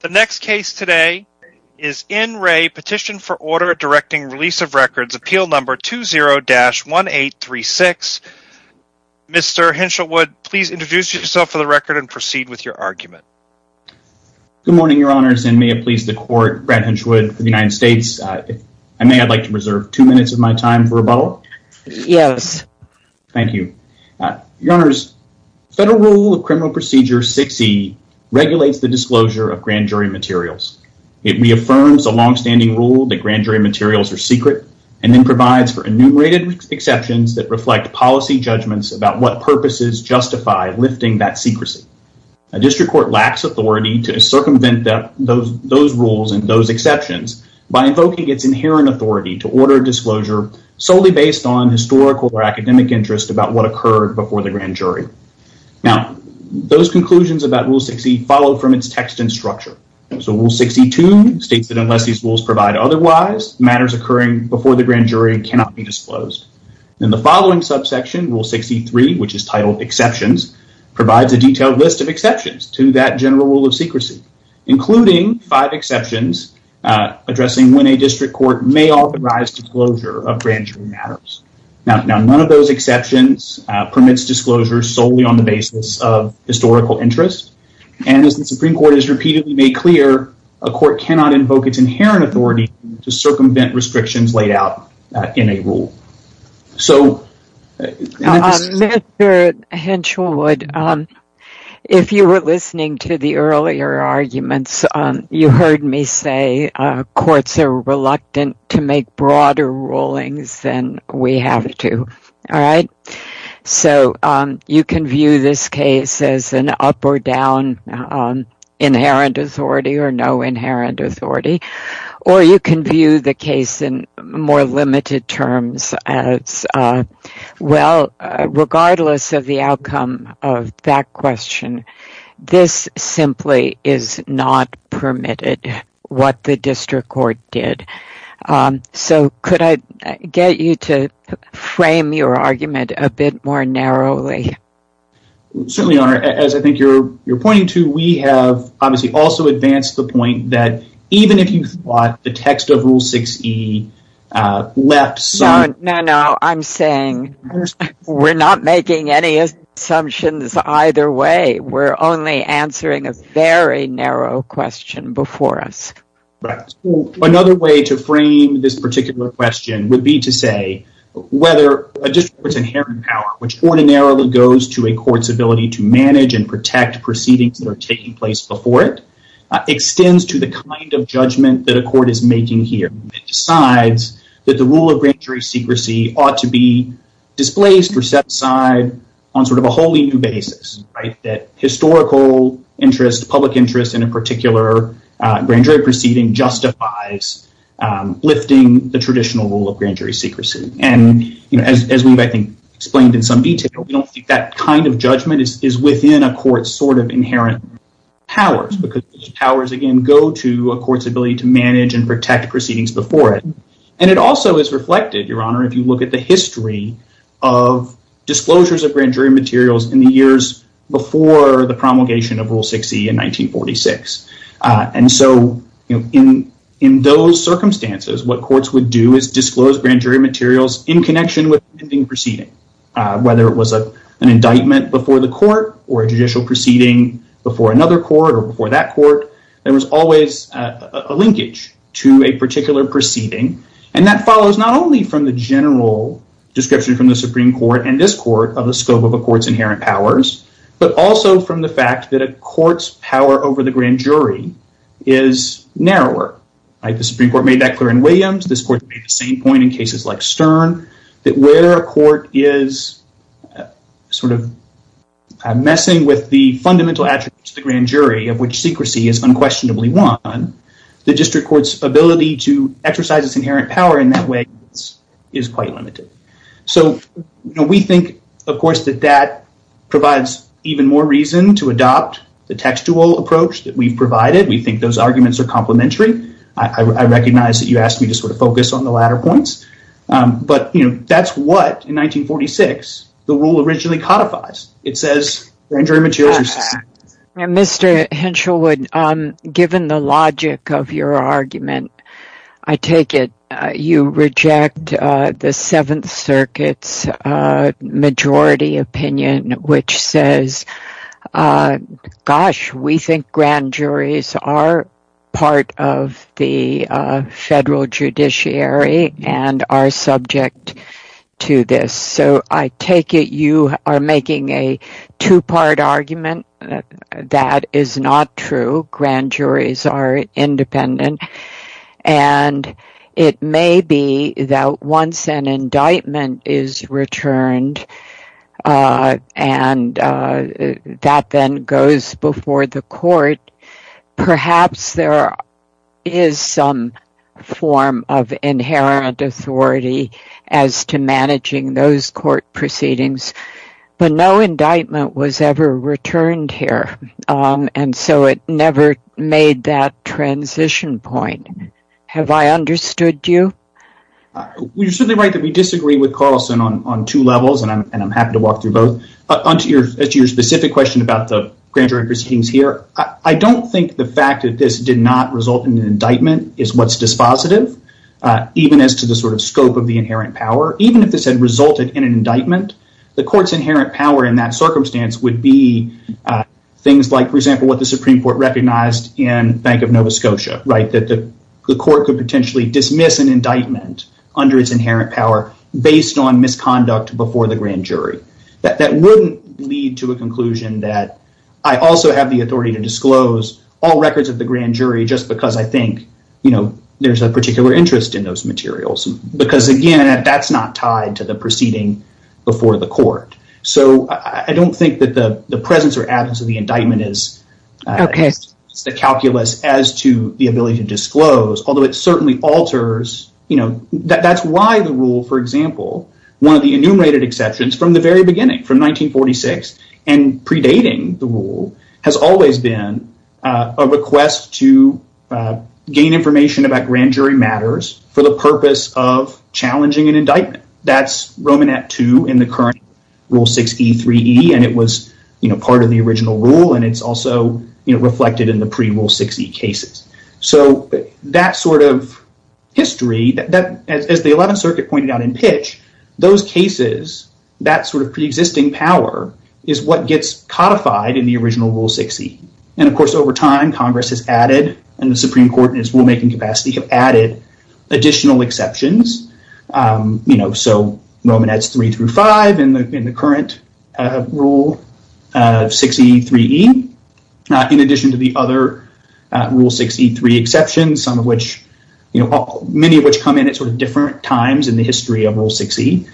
The next case today is N. Ray Petition for Order Directing Release of Records Appeal No. 20-1836. Mr. Hinshelwood, please introduce yourself for the record and proceed with your argument. Good morning, Your Honors, and may it please the Court, Brad Hinshelwood of the United States. If I may, I'd like to reserve two minutes of my time for rebuttal. Yes. Thank you. Your Honors, Federal Rule of Criminal Procedure 6E regulates the disclosure of grand jury materials. It reaffirms a longstanding rule that grand jury materials are secret and then provides for enumerated exceptions that reflect policy judgments about what purposes justify lifting that secrecy. A district court lacks authority to circumvent those rules and those exceptions by invoking its inherent authority to order disclosure solely based on historical or academic interest about what occurred before the grand jury. Now those conclusions about Rule 6E follow from its text and structure. So Rule 6E-2 states that unless these rules provide otherwise, matters occurring before the grand jury cannot be disclosed. In the following subsection, Rule 6E-3, which is titled Exceptions, provides a detailed list of exceptions to that general rule of secrecy, including five exceptions addressing when a district court may authorize disclosure of grand jury matters. Now, none of those exceptions permits disclosure solely on the basis of historical interest. And as the Supreme Court has repeatedly made clear, a court cannot invoke its inherent authority to circumvent restrictions laid out in a rule. So- Mr. Hinchwood, if you were listening to the earlier arguments, you heard me say courts are reluctant to make broader rulings than we have to. So you can view this case as an up-or-down inherent authority or no inherent authority. Or you can view the case in more limited terms as, well, regardless of the outcome of that So could I get you to frame your argument a bit more narrowly? Certainly, Your Honor. As I think you're pointing to, we have obviously also advanced the point that even if you thought the text of Rule 6E left some- No, no, no. I'm saying we're not making any assumptions either way. We're only answering a very narrow question before us. Right. Another way to frame this particular question would be to say whether a district's inherent power, which ordinarily goes to a court's ability to manage and protect proceedings that are taking place before it, extends to the kind of judgment that a court is making here. It decides that the rule of grand jury secrecy ought to be displaced or set aside on sort of a wholly new basis, right? That historical interest, public interest in a particular grand jury proceeding justifies lifting the traditional rule of grand jury secrecy. And as we've, I think, explained in some detail, we don't think that kind of judgment is within a court's sort of inherent powers because those powers, again, go to a court's ability to manage and protect proceedings before it. And it also is reflected, Your Honor, if you look at the history of disclosures of grand jury materials before the promulgation of Rule 6E in 1946. And so in those circumstances, what courts would do is disclose grand jury materials in connection with the proceeding. Whether it was an indictment before the court or a judicial proceeding before another court or before that court, there was always a linkage to a particular proceeding. And that follows not only from the general description from the Supreme Court and this powers, but also from the fact that a court's power over the grand jury is narrower, right? The Supreme Court made that clear in Williams. This court made the same point in cases like Stern, that where a court is sort of messing with the fundamental attributes of the grand jury, of which secrecy is unquestionably one, the district court's ability to exercise its inherent power in that way is quite limited. So we think, of course, that that provides even more reason to adopt the textual approach that we've provided. We think those arguments are complementary. I recognize that you asked me to sort of focus on the latter points. But that's what, in 1946, the rule originally codifies. It says grand jury materials are secret. Mr. Henshelwood, given the logic of your argument, I take it you reject the seventh circuit's majority opinion, which says, gosh, we think grand juries are part of the federal judiciary and are subject to this. So I take it you are making a two-part argument. That is not true. Grand juries are independent. And it may be that once an indictment is returned and that then goes before the court, perhaps there is some form of inherent authority as to managing those court proceedings. But no indictment was ever returned here. And so it never made that transition point. Have I understood you? You're certainly right that we disagree with Carlson on two levels. And I'm happy to walk through both. As to your specific question about the grand jury proceedings here, I don't think the fact that this did not result in an indictment is what's dispositive, even as to the sort of scope of the inherent power. Even if this had resulted in an indictment, the court's inherent power in that circumstance would be things like, for example, what the Supreme Court recognized in Bank of Nova Scotia, that the court could potentially dismiss an indictment under its inherent power based on misconduct before the grand jury. That wouldn't lead to a conclusion that I also have the authority to disclose all records of the grand jury just because I think there's a particular interest in those materials. Because again, that's not tied to the proceeding before the court. So I don't think that the presence or absence of the indictment is the calculus as to the ability to disclose, although it certainly alters, you know, that's why the rule, for example, one of the enumerated exceptions from the very beginning, from 1946, and predating the rule has always been a request to gain information about grand jury matters for the purpose of challenging an indictment. That's Romanat II in the current Rule 6E3E, and it was part of the original rule, and it's also reflected in the pre-Rule 6E cases. So that sort of history, as the 11th Circuit pointed out in pitch, those cases, that sort of preexisting power is what gets codified in the original Rule 6E. And of course, over time, Congress has added, and the Supreme Court in its rulemaking capacity have added additional exceptions, you know, so Romanat III through V in the current Rule 6E3E, in addition to the other Rule 6E3 exceptions, some of which, you know, many of which come in at sort of different times in the history of Rule 6E.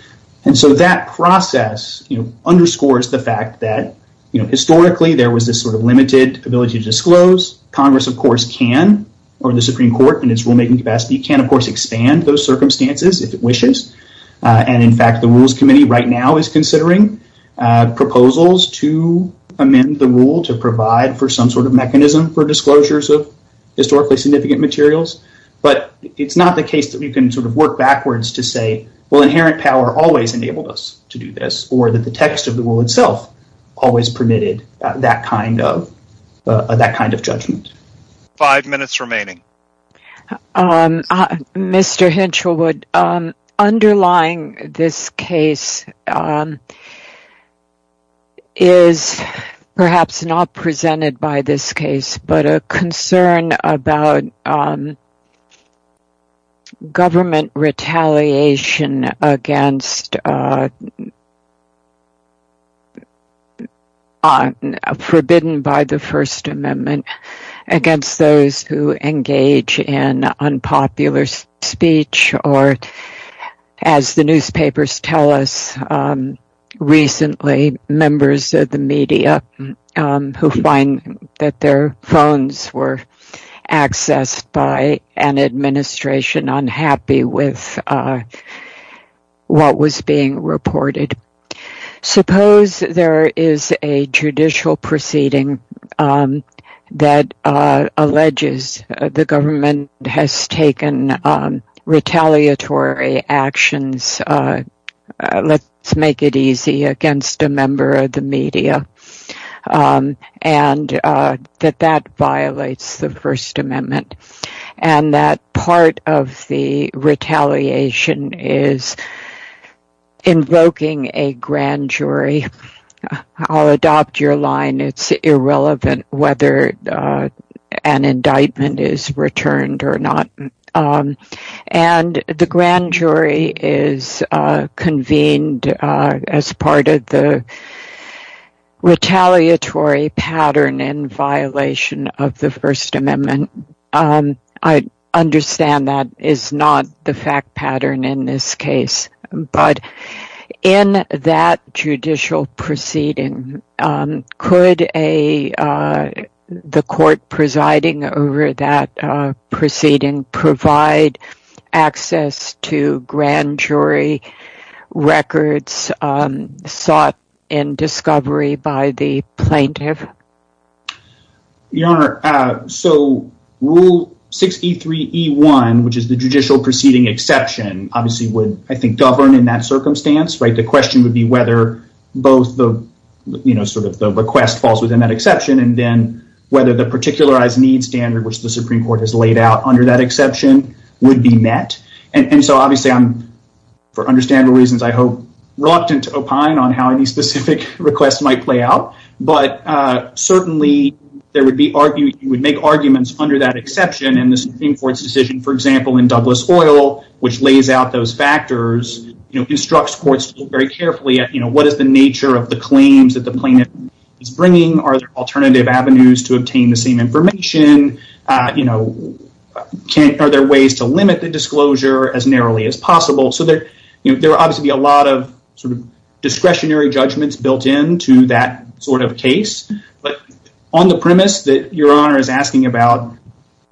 And so that process, you know, underscores the fact that, you know, historically there was this sort of limited ability to disclose. Congress, of course, can, or the Supreme Court in its rulemaking capacity, can, of course, expand those circumstances if it wishes. And in fact, the Rules Committee right now is considering proposals to amend the rule to provide for some sort of mechanism for disclosures of historically significant materials. But it's not the case that we can sort of work backwards to say, well, inherent power always enabled us to do this, or that the text of the rule itself always permitted that kind of judgment. Five minutes remaining. Mr. Hinchelwood, underlying this case is perhaps not presented by this case, but a concern about government retaliation against, forbidden by the First Amendment, against those who engage in unpopular speech, or as the newspapers tell us recently, members of the media who find that their phones were accessed by an administration unhappy with what was being reported. Suppose there is a judicial proceeding that alleges the government has taken retaliatory actions, let's make it easy, against a member of the media, and that that violates the First Amendment. And that part of the retaliation is invoking a grand jury. I'll adopt your line, it's irrelevant whether an indictment is returned or not. And the grand jury is convened as part of the retaliatory pattern in violation of the First Amendment. I understand that is not the fact pattern in this case. But in that judicial proceeding, could the court presiding over that proceeding provide access to grand jury records sought in discovery by the plaintiff? Your Honor, so Rule 6E3E1, which is the judicial proceeding exception, obviously would, I think, govern in that circumstance, right? The question would be whether both the, you know, sort of the request falls within that exception, and then whether the particularized needs standard, which the Supreme Court has laid out under that exception, would be met. And so obviously, for understandable reasons, I'm reluctant to opine on how any specific request might play out. But certainly, you would make arguments under that exception. And the Supreme Court's decision, for example, in Douglas Oil, which lays out those factors, instructs courts very carefully at, you know, what is the nature of the claims that the plaintiff is bringing? Are there alternative avenues to obtain the same information? You know, are there ways to limit the disclosure as narrowly as possible? So there would obviously be a lot of sort of discretionary judgments built into that sort of case. But on the premise that Your Honor is asking about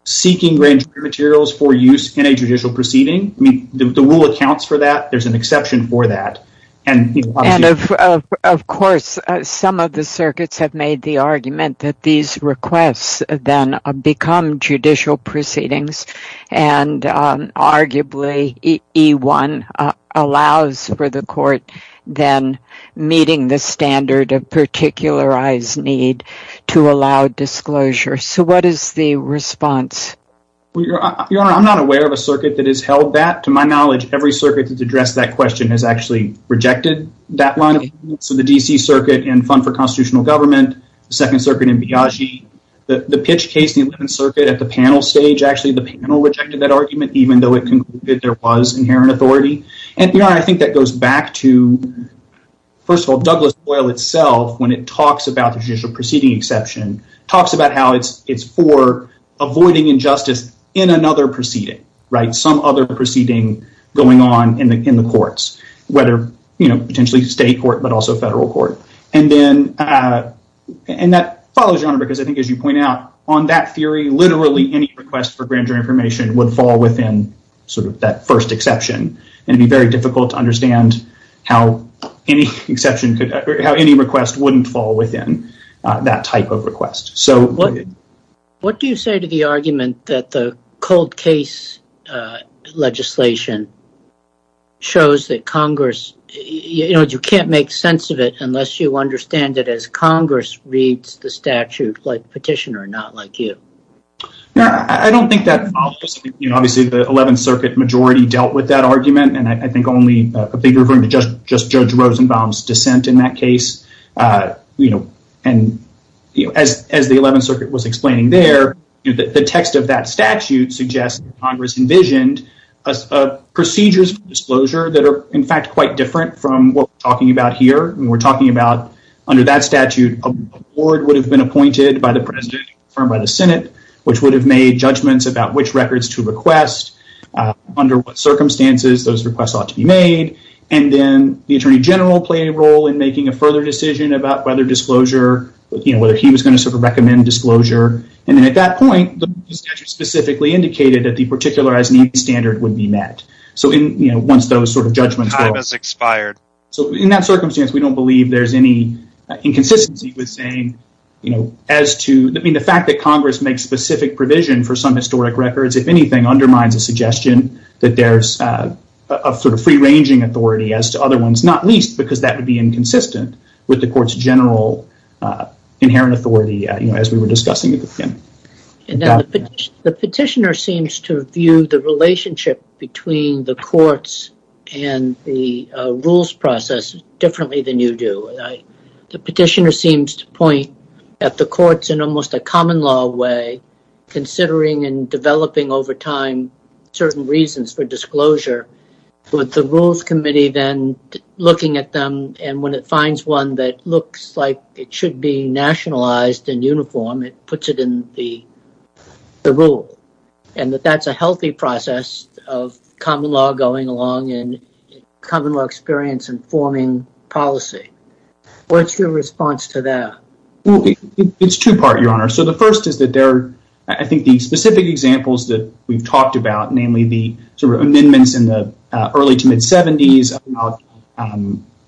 seeking grand jury materials for use in a judicial proceeding, I mean, the rule accounts for that. There's an exception for that. And of course, some of the circuits have made the argument that these requests then become judicial proceedings. And arguably, E1 allows for the court then meeting the standard of particularized need to allow disclosure. So what is the response? Well, Your Honor, I'm not aware of a circuit that has held that. To my knowledge, every circuit that's addressed that question has actually rejected that line of evidence. So the D.C. Circuit in Fund for Constitutional Government, the Second Circuit in Biagi, the pitch case in the Eleventh Circuit at the panel stage, actually the panel rejected that argument, even though it concluded there was inherent authority. And Your Honor, I think that goes back to, first of all, Douglas Oil itself, when it talks about the judicial proceeding exception, talks about how it's for avoiding injustice in another proceeding, right? So it's for avoiding going on in the courts, whether, you know, potentially state court, but also federal court. And that follows, Your Honor, because I think, as you point out, on that theory, literally any request for grand jury information would fall within sort of that first exception. And it would be very difficult to understand how any request wouldn't fall within that type of request. So what do you say to the argument that the cold case legislation shows that Congress, you know, you can't make sense of it unless you understand it as Congress reads the statute like petitioner, not like you. I don't think that obviously the Eleventh Circuit majority dealt with that argument. And I think only a bigger group, just Judge Rosenbaum's dissent in that case, you know, and as the Eleventh Circuit was explaining there, the text of that statute suggests Congress envisioned procedures for disclosure that are, in fact, quite different from what we're talking about here. And we're talking about, under that statute, a board would have been appointed by the president and confirmed by the Senate, which would have made judgments about which records to request, under what circumstances those requests ought to be made. And then the Attorney General play a role in making a further decision about whether disclosure, you know, whether he was going to sort of recommend disclosure. And then at that point, the statute specifically indicated that the particularized needs standard would be met. So, you know, once those sort of judgments were... Time has expired. So in that circumstance, we don't believe there's any inconsistency with saying, you know, as to, I mean, the fact that Congress makes specific provision for some historic records, if anything, undermines a suggestion that there's a sort of free-ranging authority as to other ones, not least because that would be inconsistent with the court's general inherent authority, you know, as we were discussing at the beginning. And the petitioner seems to view the relationship between the courts and the rules process differently than you do. The petitioner seems to point at the courts in almost a common law way, considering and developing over time certain reasons for disclosure with the rules committee, then looking at them. And when it finds one that looks like it should be nationalized and uniform, it puts it in the rule. And that's a healthy process of common law going along and common law experience informing policy. What's your response to that? It's two part, Your Honor. So the first is that there are, I think, the specific examples that we've talked about, namely the amendments in the early to mid-70s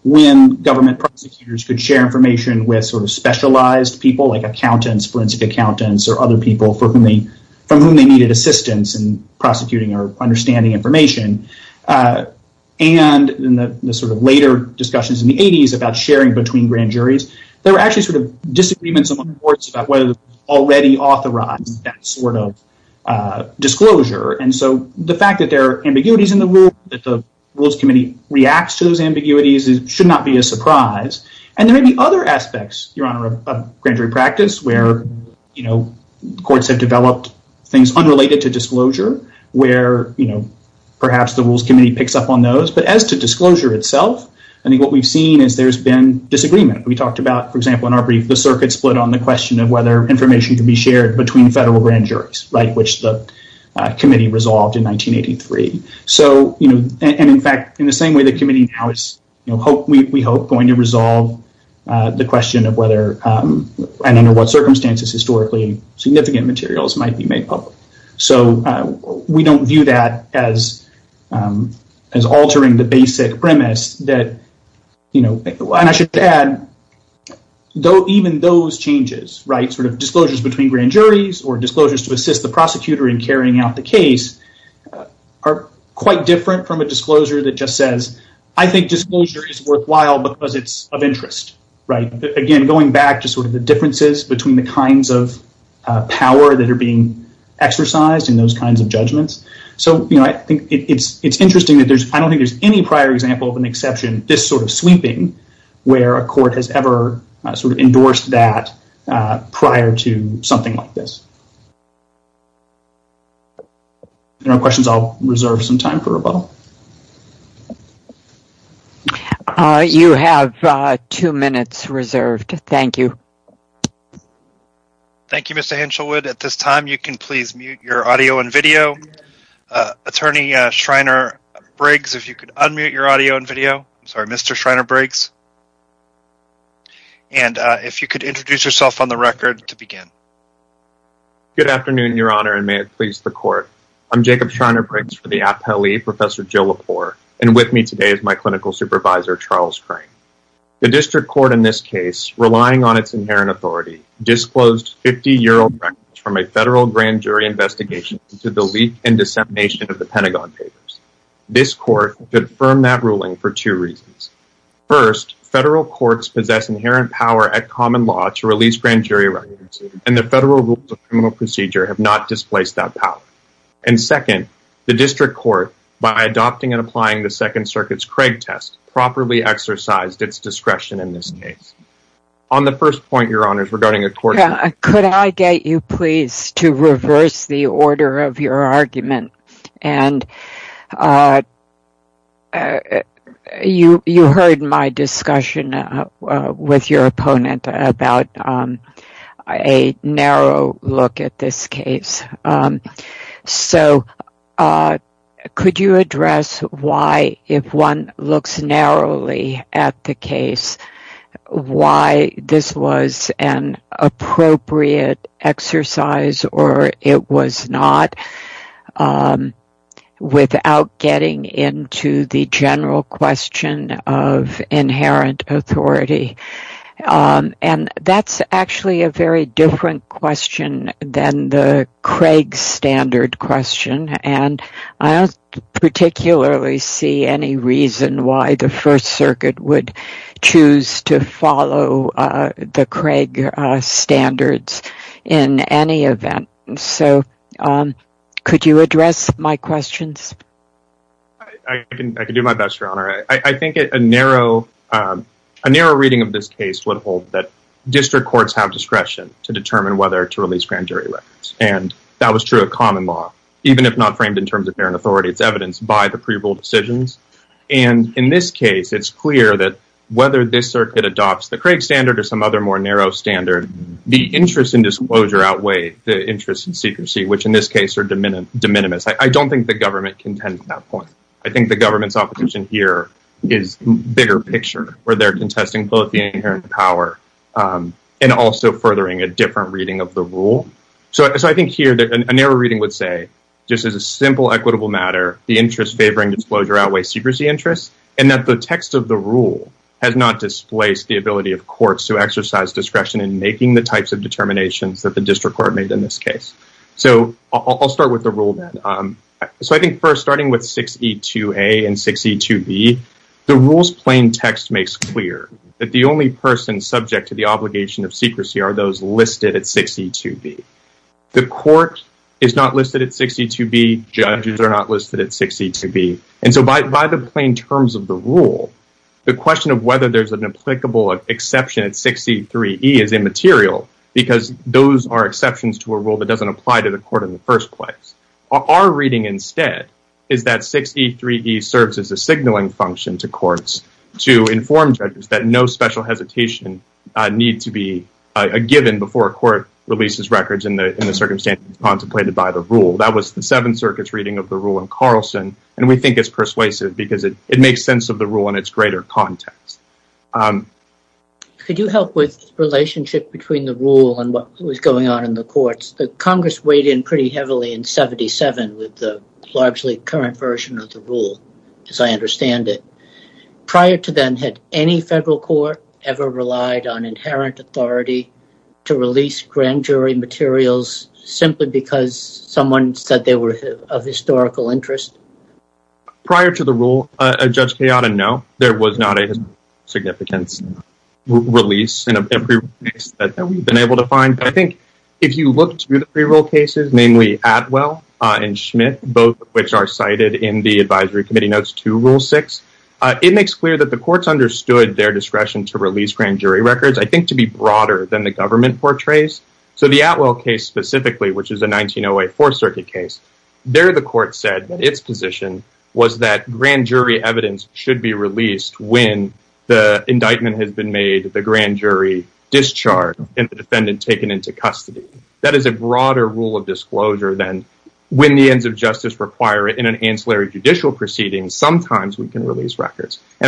when government prosecutors could share information with sort of specialized people like accountants, forensic accountants, or other people from whom they needed assistance in prosecuting or understanding information. And in the sort of later discussions in the 80s about sharing between grand juries, there were actually sort of disagreements among courts about whether they already authorized that sort of disclosure. And so the fact that there are ambiguities in the rule, that the rules committee reacts to those ambiguities should not be a surprise. And there may be other aspects, Your Honor, of grand jury practice where, you know, courts have developed things unrelated to disclosure, where, you know, perhaps the rules committee picks up on those. But as to disclosure itself, I think what we've seen is there's been disagreement. We talked about, for example, in our brief, the circuit split on the question of whether information can be shared between federal grand juries, right, which the committee resolved in 1983. So, you know, and in fact, in the same way, the committee now is, you know, we hope going to resolve the question of whether, and under what circumstances, historically significant materials might be made public. So we don't view that as altering the basic premise that, you know, and I should add, even those changes, right, sort of disclosures between grand juries or disclosures to assist the prosecutor in carrying out the case are quite different from a disclosure that just says, I think disclosure is worthwhile because it's of interest, right? Again, going back to sort of the differences between the kinds of power that are being exercised in those kinds of judgments. So, you know, I think it's interesting that there's, I don't think there's any prior example of an exception, this sort of sweeping where a court has ever sort of endorsed that prior to something like this. If there are no questions, I'll reserve some time for rebuttal. You have two minutes reserved. Thank you. Thank you, Mr. Henshelwood. At this time, you can please mute your audio and video. Attorney Schreiner Briggs, if you could unmute your audio and video. Sorry, Mr. Schreiner Briggs. And if you could introduce yourself on the record to begin. Good afternoon, Your Honor, and may it please the court. I'm Jacob Schreiner Briggs for the Appellee, Professor Jill Lepore, and with me today is my clinical supervisor, Charles Crane. The district court in this case, relying on its inherent authority, disclosed 50-year-old records from a federal grand jury investigation to the leak and dissemination of the Pentagon Papers. This court could affirm that ruling for two reasons. First, federal courts possess inherent power at common law to release grand jury records, and the federal rules of criminal procedure have not displaced that power. And second, the district court, by adopting and applying the Second Circuit's Craig test, properly exercised its discretion in this case. On the first point, Your Honor, regarding a court- Could I get you please to reverse the order of your argument? And you heard my discussion with your opponent about a narrow look at this case. So could you address why, if one looks narrowly at the case, why this was an appropriate exercise, or it was not, without getting into the general question of inherent authority? And that's actually a very different question than the Craig standard question, and I don't particularly see any reason why the First Circuit would choose to follow the Craig standards in any event. So could you address my questions? I can do my best, Your Honor. I think a narrow reading of this case would hold that district courts have discretion to determine whether to release grand jury records, and that was true of common law, even if not framed in terms of inherent authority, it's evidenced by the pre-rule decisions. And in this case, it's clear that whether this circuit adopts the Craig standard or some other more narrow standard, the interest in disclosure outweigh the interest in secrecy, which in this case are de minimis. I don't think the government contends at that point. I think the government's opposition here is a bigger picture, where they're contesting both the inherent power and also furthering a different reading of the rule. So I think here, a narrow reading would say, just as a simple equitable matter, the interest favoring disclosure outweighs secrecy interests, and that the text of the rule has not displaced the ability of courts to exercise discretion in making the types of determinations that the district court made in this case. So I'll start with the rule then. So I think first, starting with 6E2A and 6E2B, the rule's plain text makes clear that the only persons subject to the obligation of secrecy are those listed at 6E2B. The court is not listed at 6E2B. Judges are not listed at 6E2B. And so by the plain terms of the rule, the question of whether there's an applicable exception at 6E3E is immaterial because those are exceptions to a rule that doesn't apply to the court in the first place. Our reading instead is that 6E3E serves as a signaling function to courts to inform judges that no special hesitation need to be given before a court releases records in the circumstances contemplated by the rule. That was the Seventh Circuit's reading of the rule in Carlson, and we think it's persuasive because it makes sense of the rule in its greater context. Could you help with the relationship between the rule and what was going on in the courts? The Congress weighed in pretty heavily in 77 with the largely current version of the rule, as I understand it. Prior to then, had any federal court ever relied on inherent authority to release grand jury materials simply because someone said they were of historical interest? Prior to the rule, Judge Kayada, no. There was not a significant release in a pre-rule case that we've been able to find. But I think if you look through the pre-rule cases, namely Atwell and Schmidt, both of It makes clear that the courts understood their discretion to release grand jury records, I think, to be broader than the government portrays. So the Atwell case specifically, which is a 1908 Fourth Circuit case, there the court said that its position was that grand jury evidence should be released when the indictment has been made, the grand jury discharged, and the defendant taken into custody. That is a broader rule of disclosure than when the ends of justice require it in an And I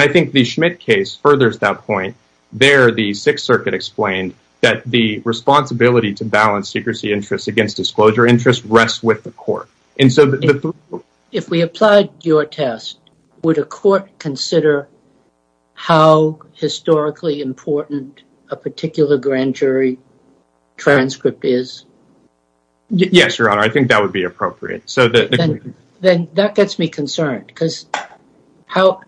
think the Schmidt case furthers that point. There, the Sixth Circuit explained that the responsibility to balance secrecy interests against disclosure interests rests with the court. If we applied your test, would a court consider how historically important a particular grand jury transcript is? Yes, Your Honor, I think that would be appropriate. So then that gets me concerned because how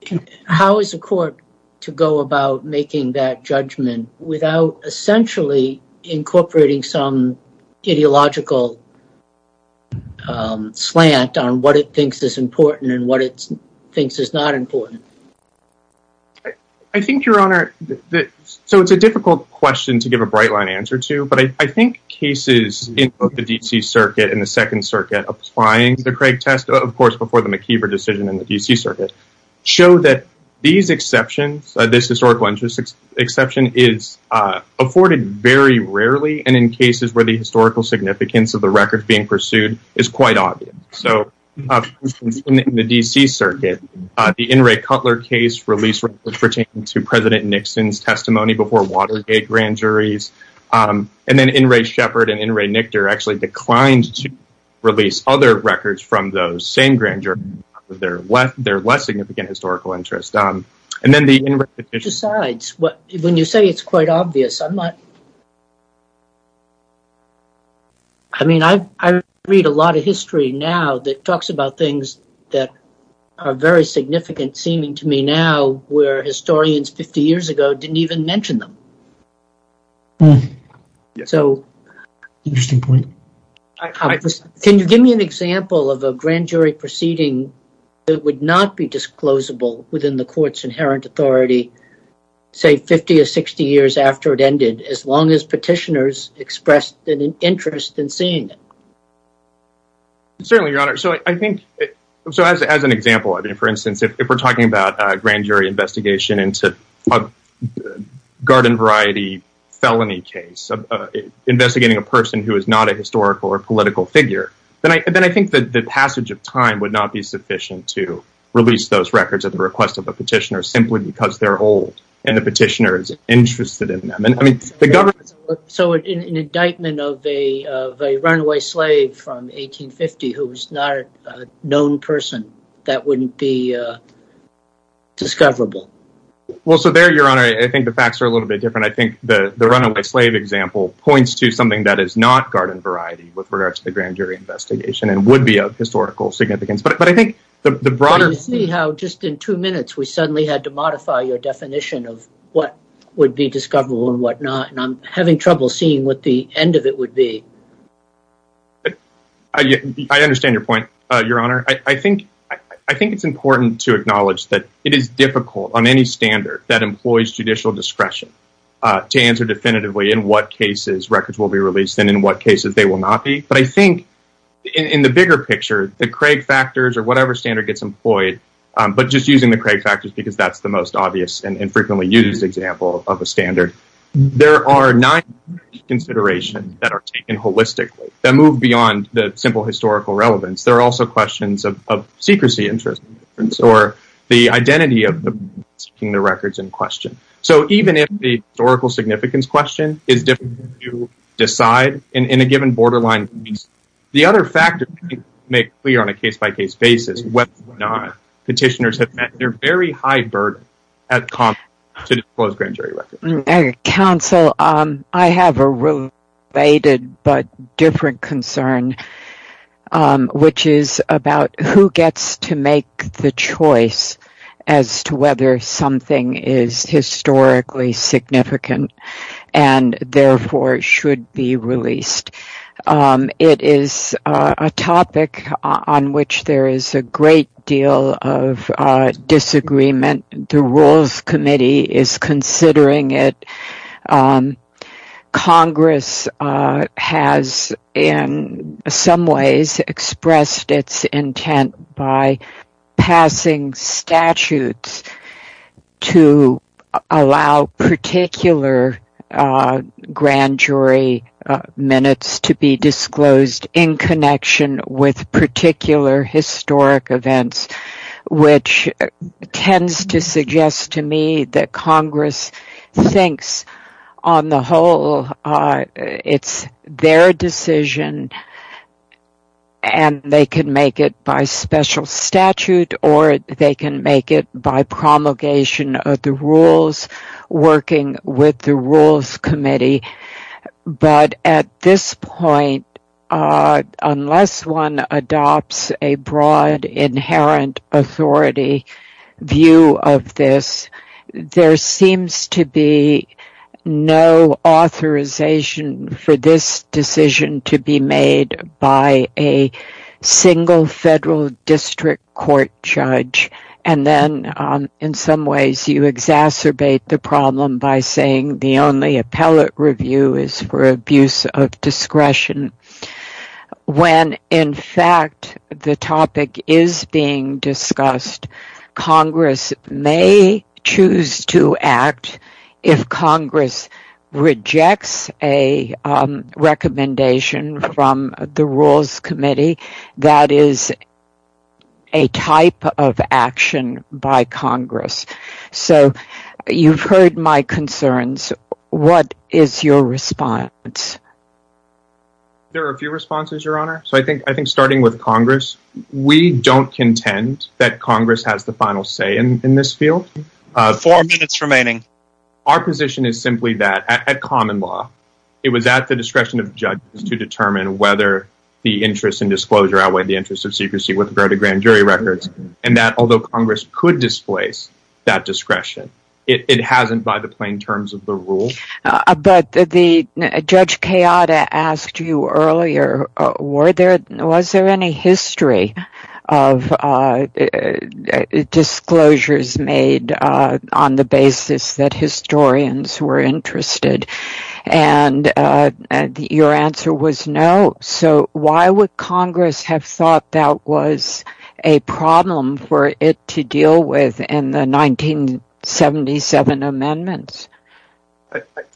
is the court to go about making that judgment without essentially incorporating some ideological slant on what it thinks is important and what it thinks is not important? I think, Your Honor, so it's a difficult question to give a bright line answer to, but I think cases in both the D.C. Circuit and the Second Circuit applying the Craig test, of course, before the McKeever decision in the D.C. Circuit, show that these exceptions, this historical exception is afforded very rarely and in cases where the historical significance of the record being pursued is quite obvious. So in the D.C. Circuit, the Inouye-Cutler case released, which pertained to President Nixon's testimony before Watergate grand juries, and then Inouye-Shepard and Inouye-Nichter actually declined to release other records from those same grand juries with their less significant historical interest. And then the Inouye-Nichter case. Besides, when you say it's quite obvious, I mean, I read a lot of history now that talks about things that are very significant, seeming to me now, where historians 50 years ago didn't even mention them. So can you give me an example of a grand jury proceeding that would not be disclosable within the court's inherent authority, say, 50 or 60 years after it ended, as long as petitioners expressed an interest in seeing it? Certainly, Your Honor. So I think, so as an example, I mean, for instance, if we're talking about a grand jury investigation into a garden variety felony case, investigating a person who is not a historical or political figure, then I think that the passage of time would not be sufficient to release those records at the request of a petitioner, simply because they're old, and the petitioner is interested in them. And I mean, the government... So an indictment of a runaway slave from 1850 who was not a known person, that wouldn't be discoverable. Well, so there, Your Honor, I think the facts are a little bit different. I think the runaway slave example points to something that is not garden variety with regards to the grand jury investigation and would be of historical significance. But I think the broader... You see how just in two minutes, we suddenly had to modify your definition of what would be discoverable and whatnot, and I'm having trouble seeing what the end of it would be. I understand your point, Your Honor. I think it's important to acknowledge that it is difficult on any standard that employs judicial discretion to answer definitively in what cases records will be released and in what cases they will not be. But I think in the bigger picture, the Craig factors or whatever standard gets employed, but just using the Craig factors because that's the most obvious and frequently used example of a standard, there are nine considerations that are taken holistically that move beyond the simple historical relevance. There are also questions of secrecy interest or the identity of the records in question. So even if the historical significance question is difficult to decide in a given borderline, the other factors make clear on a case-by-case basis, whether or not petitioners have met their very high burden to disclose grand jury records. Counsel, I have a related but different concern, which is about who gets to make the choice as to whether something is historically significant and therefore should be released. It is a topic on which there is a great deal of disagreement. The Rules Committee is considering it. Congress has in some ways expressed its intent by passing statutes to allow particular grand jury minutes to be disclosed in connection with particular historic events, which tends to suggest to me that Congress thinks on the whole it's their decision and they can make it by special statute or they can make it by promulgation of the rules working with the Rules Committee. But at this point, unless one adopts a broad inherent authority view of this, there seems to be no authorization for this decision to be made by a single federal district court judge. And then in some ways, you exacerbate the problem by saying the only appellate review is for abuse of discretion. When in fact the topic is being discussed, Congress may choose to act if Congress rejects a recommendation from the Rules Committee that is a type of action by Congress. So you've heard my concerns. What is your response? There are a few responses, Your Honor. So I think starting with Congress, we don't contend that Congress has the final say in this field. Four minutes remaining. Our position is simply that at common law, it was at the discretion of judges to determine whether the interest in disclosure outweighed the interest of secrecy with regard to grand jury records. And that although Congress could displace that discretion, it hasn't by the plain terms of the rule. But the Judge Kayada asked you earlier, was there any history of disclosures made on the basis that historians were interested? And your answer was no. So why would Congress have thought that was a problem for it to deal with in the 1977 amendments?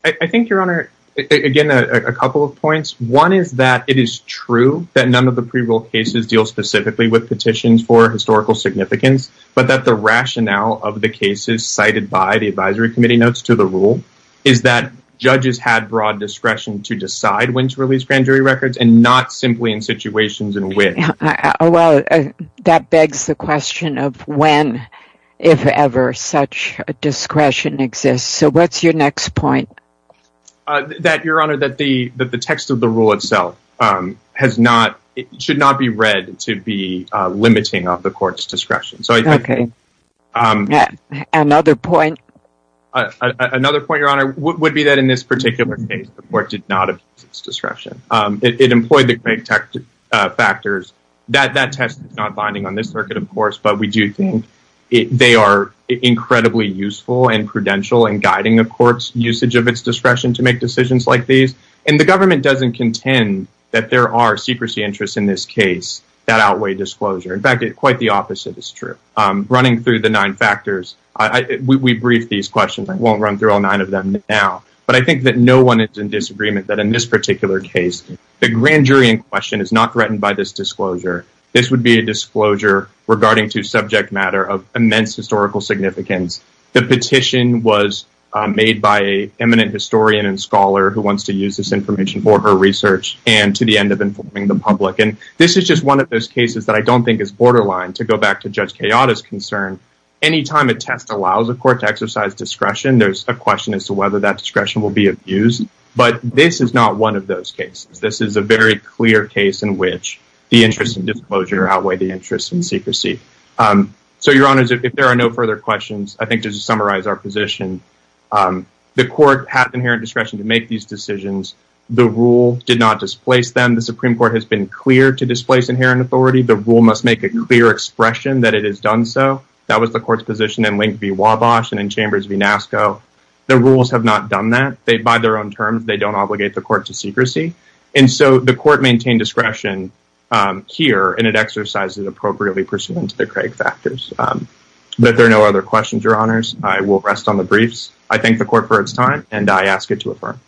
I think, Your Honor, again, a couple of points. One is that it is true that none of the pre-rule cases deal specifically with petitions for to the rule, is that judges had broad discretion to decide when to release grand jury records and not simply in situations in which. Well, that begs the question of when, if ever, such discretion exists. So what's your next point? That, Your Honor, that the text of the rule itself should not be read to be limiting of the court's discretion. OK. Another point. Another point, Your Honor, would be that in this particular case, the court did not abuse its discretion. It employed the correct factors. That test is not binding on this circuit, of course, but we do think they are incredibly useful and prudential in guiding the court's usage of its discretion to make decisions like these. And the government doesn't contend that there are secrecy interests in this case that outweigh disclosure. In fact, quite the opposite is true. Running through the nine factors, we brief these questions. I won't run through all nine of them now. But I think that no one is in disagreement that in this particular case, the grand jury in question is not threatened by this disclosure. This would be a disclosure regarding to subject matter of immense historical significance. The petition was made by an eminent historian and scholar who wants to use this information for her research and to the end of informing the public. This is just one of those cases that I don't think is borderline. To go back to Judge Kayada's concern, any time a test allows a court to exercise discretion, there's a question as to whether that discretion will be abused. But this is not one of those cases. This is a very clear case in which the interest in disclosure outweigh the interest in secrecy. So, Your Honor, if there are no further questions, I think to summarize our position, the court has inherent discretion to make these decisions. The rule did not displace them. The Supreme Court has been clear to displace inherent authority. The rule must make a clear expression that it has done so. That was the court's position in Link v. Wabash and in Chambers v. Nasco. The rules have not done that. By their own terms, they don't obligate the court to secrecy. And so the court maintained discretion here, and it exercises it appropriately pursuant to the Craig factors. But there are no other questions, Your Honors. I will rest on the briefs. I thank the court for its time, and I ask it to affirm.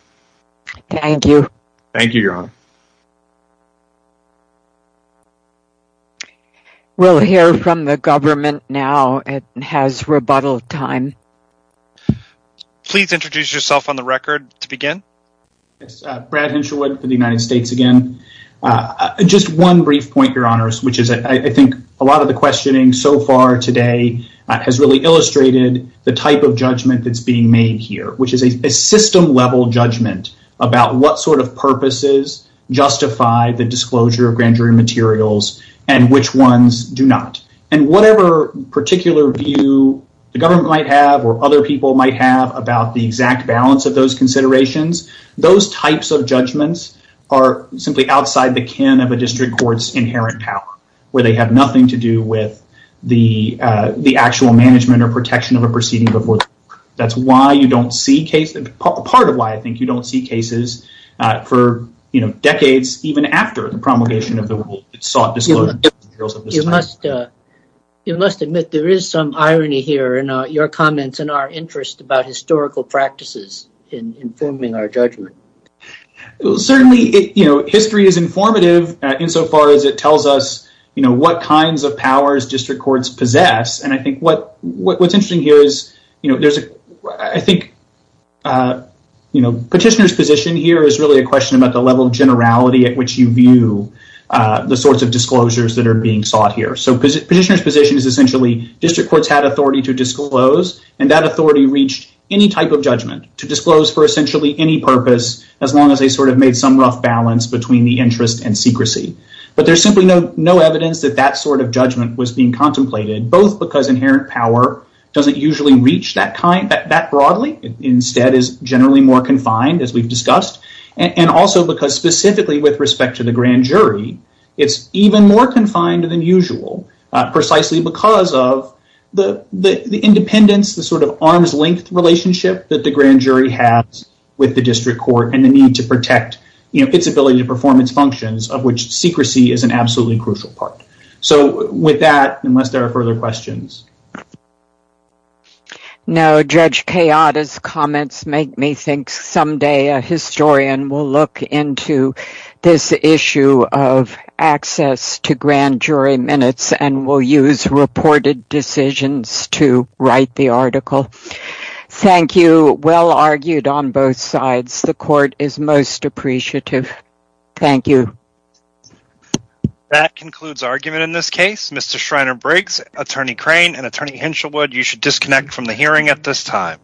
Thank you. Thank you, Your Honor. Thank you. We'll hear from the government now. It has rebuttal time. Please introduce yourself on the record to begin. Yes. Brad Hensherwood for the United States again. Just one brief point, Your Honors, which is I think a lot of the questioning so far today has really illustrated the type of judgment that's being made here, which is a system-level judgment about what sort of purposes justify the disclosure of grand jury materials and which ones do not. And whatever particular view the government might have or other people might have about the exact balance of those considerations, those types of judgments are simply outside the kin of a district court's inherent power, where they have nothing to do with the actual management or protection of a proceeding before the court. That's part of why I think you don't see cases for decades, even after the promulgation of the rule. It sought disclosure. You must admit there is some irony here in your comments and our interest about historical practices in informing our judgment. Certainly, history is informative insofar as it tells us what kinds of powers district courts possess. And I think what's interesting here is I think petitioner's position here is really a question about the level of generality at which you view the sorts of disclosures that are being sought here. So petitioner's position is essentially district courts had authority to disclose, and that authority reached any type of judgment to disclose for essentially any purpose, as long as they sort of made some rough balance between the interest and secrecy. But there's simply no evidence that that sort of judgment was being contemplated, both because inherent power doesn't usually reach that broadly. Instead, it's generally more confined, as we've discussed, and also because specifically with respect to the grand jury, it's even more confined than usual, precisely because of the independence, the sort of arms-length relationship that the grand jury has with the district court and the need to protect its ability to perform its functions, of which secrecy is an absolutely crucial part. So with that, unless there are further questions. Now, Judge Kayada's comments make me think someday a historian will look into this issue of access to grand jury minutes and will use reported decisions to write the article. Thank you. Well argued on both sides. The court is most appreciative. Thank you. That concludes argument in this case. Mr. Schreiner-Briggs, Attorney Crane, and Attorney Hinshelwood, you should disconnect from the hearing at this time.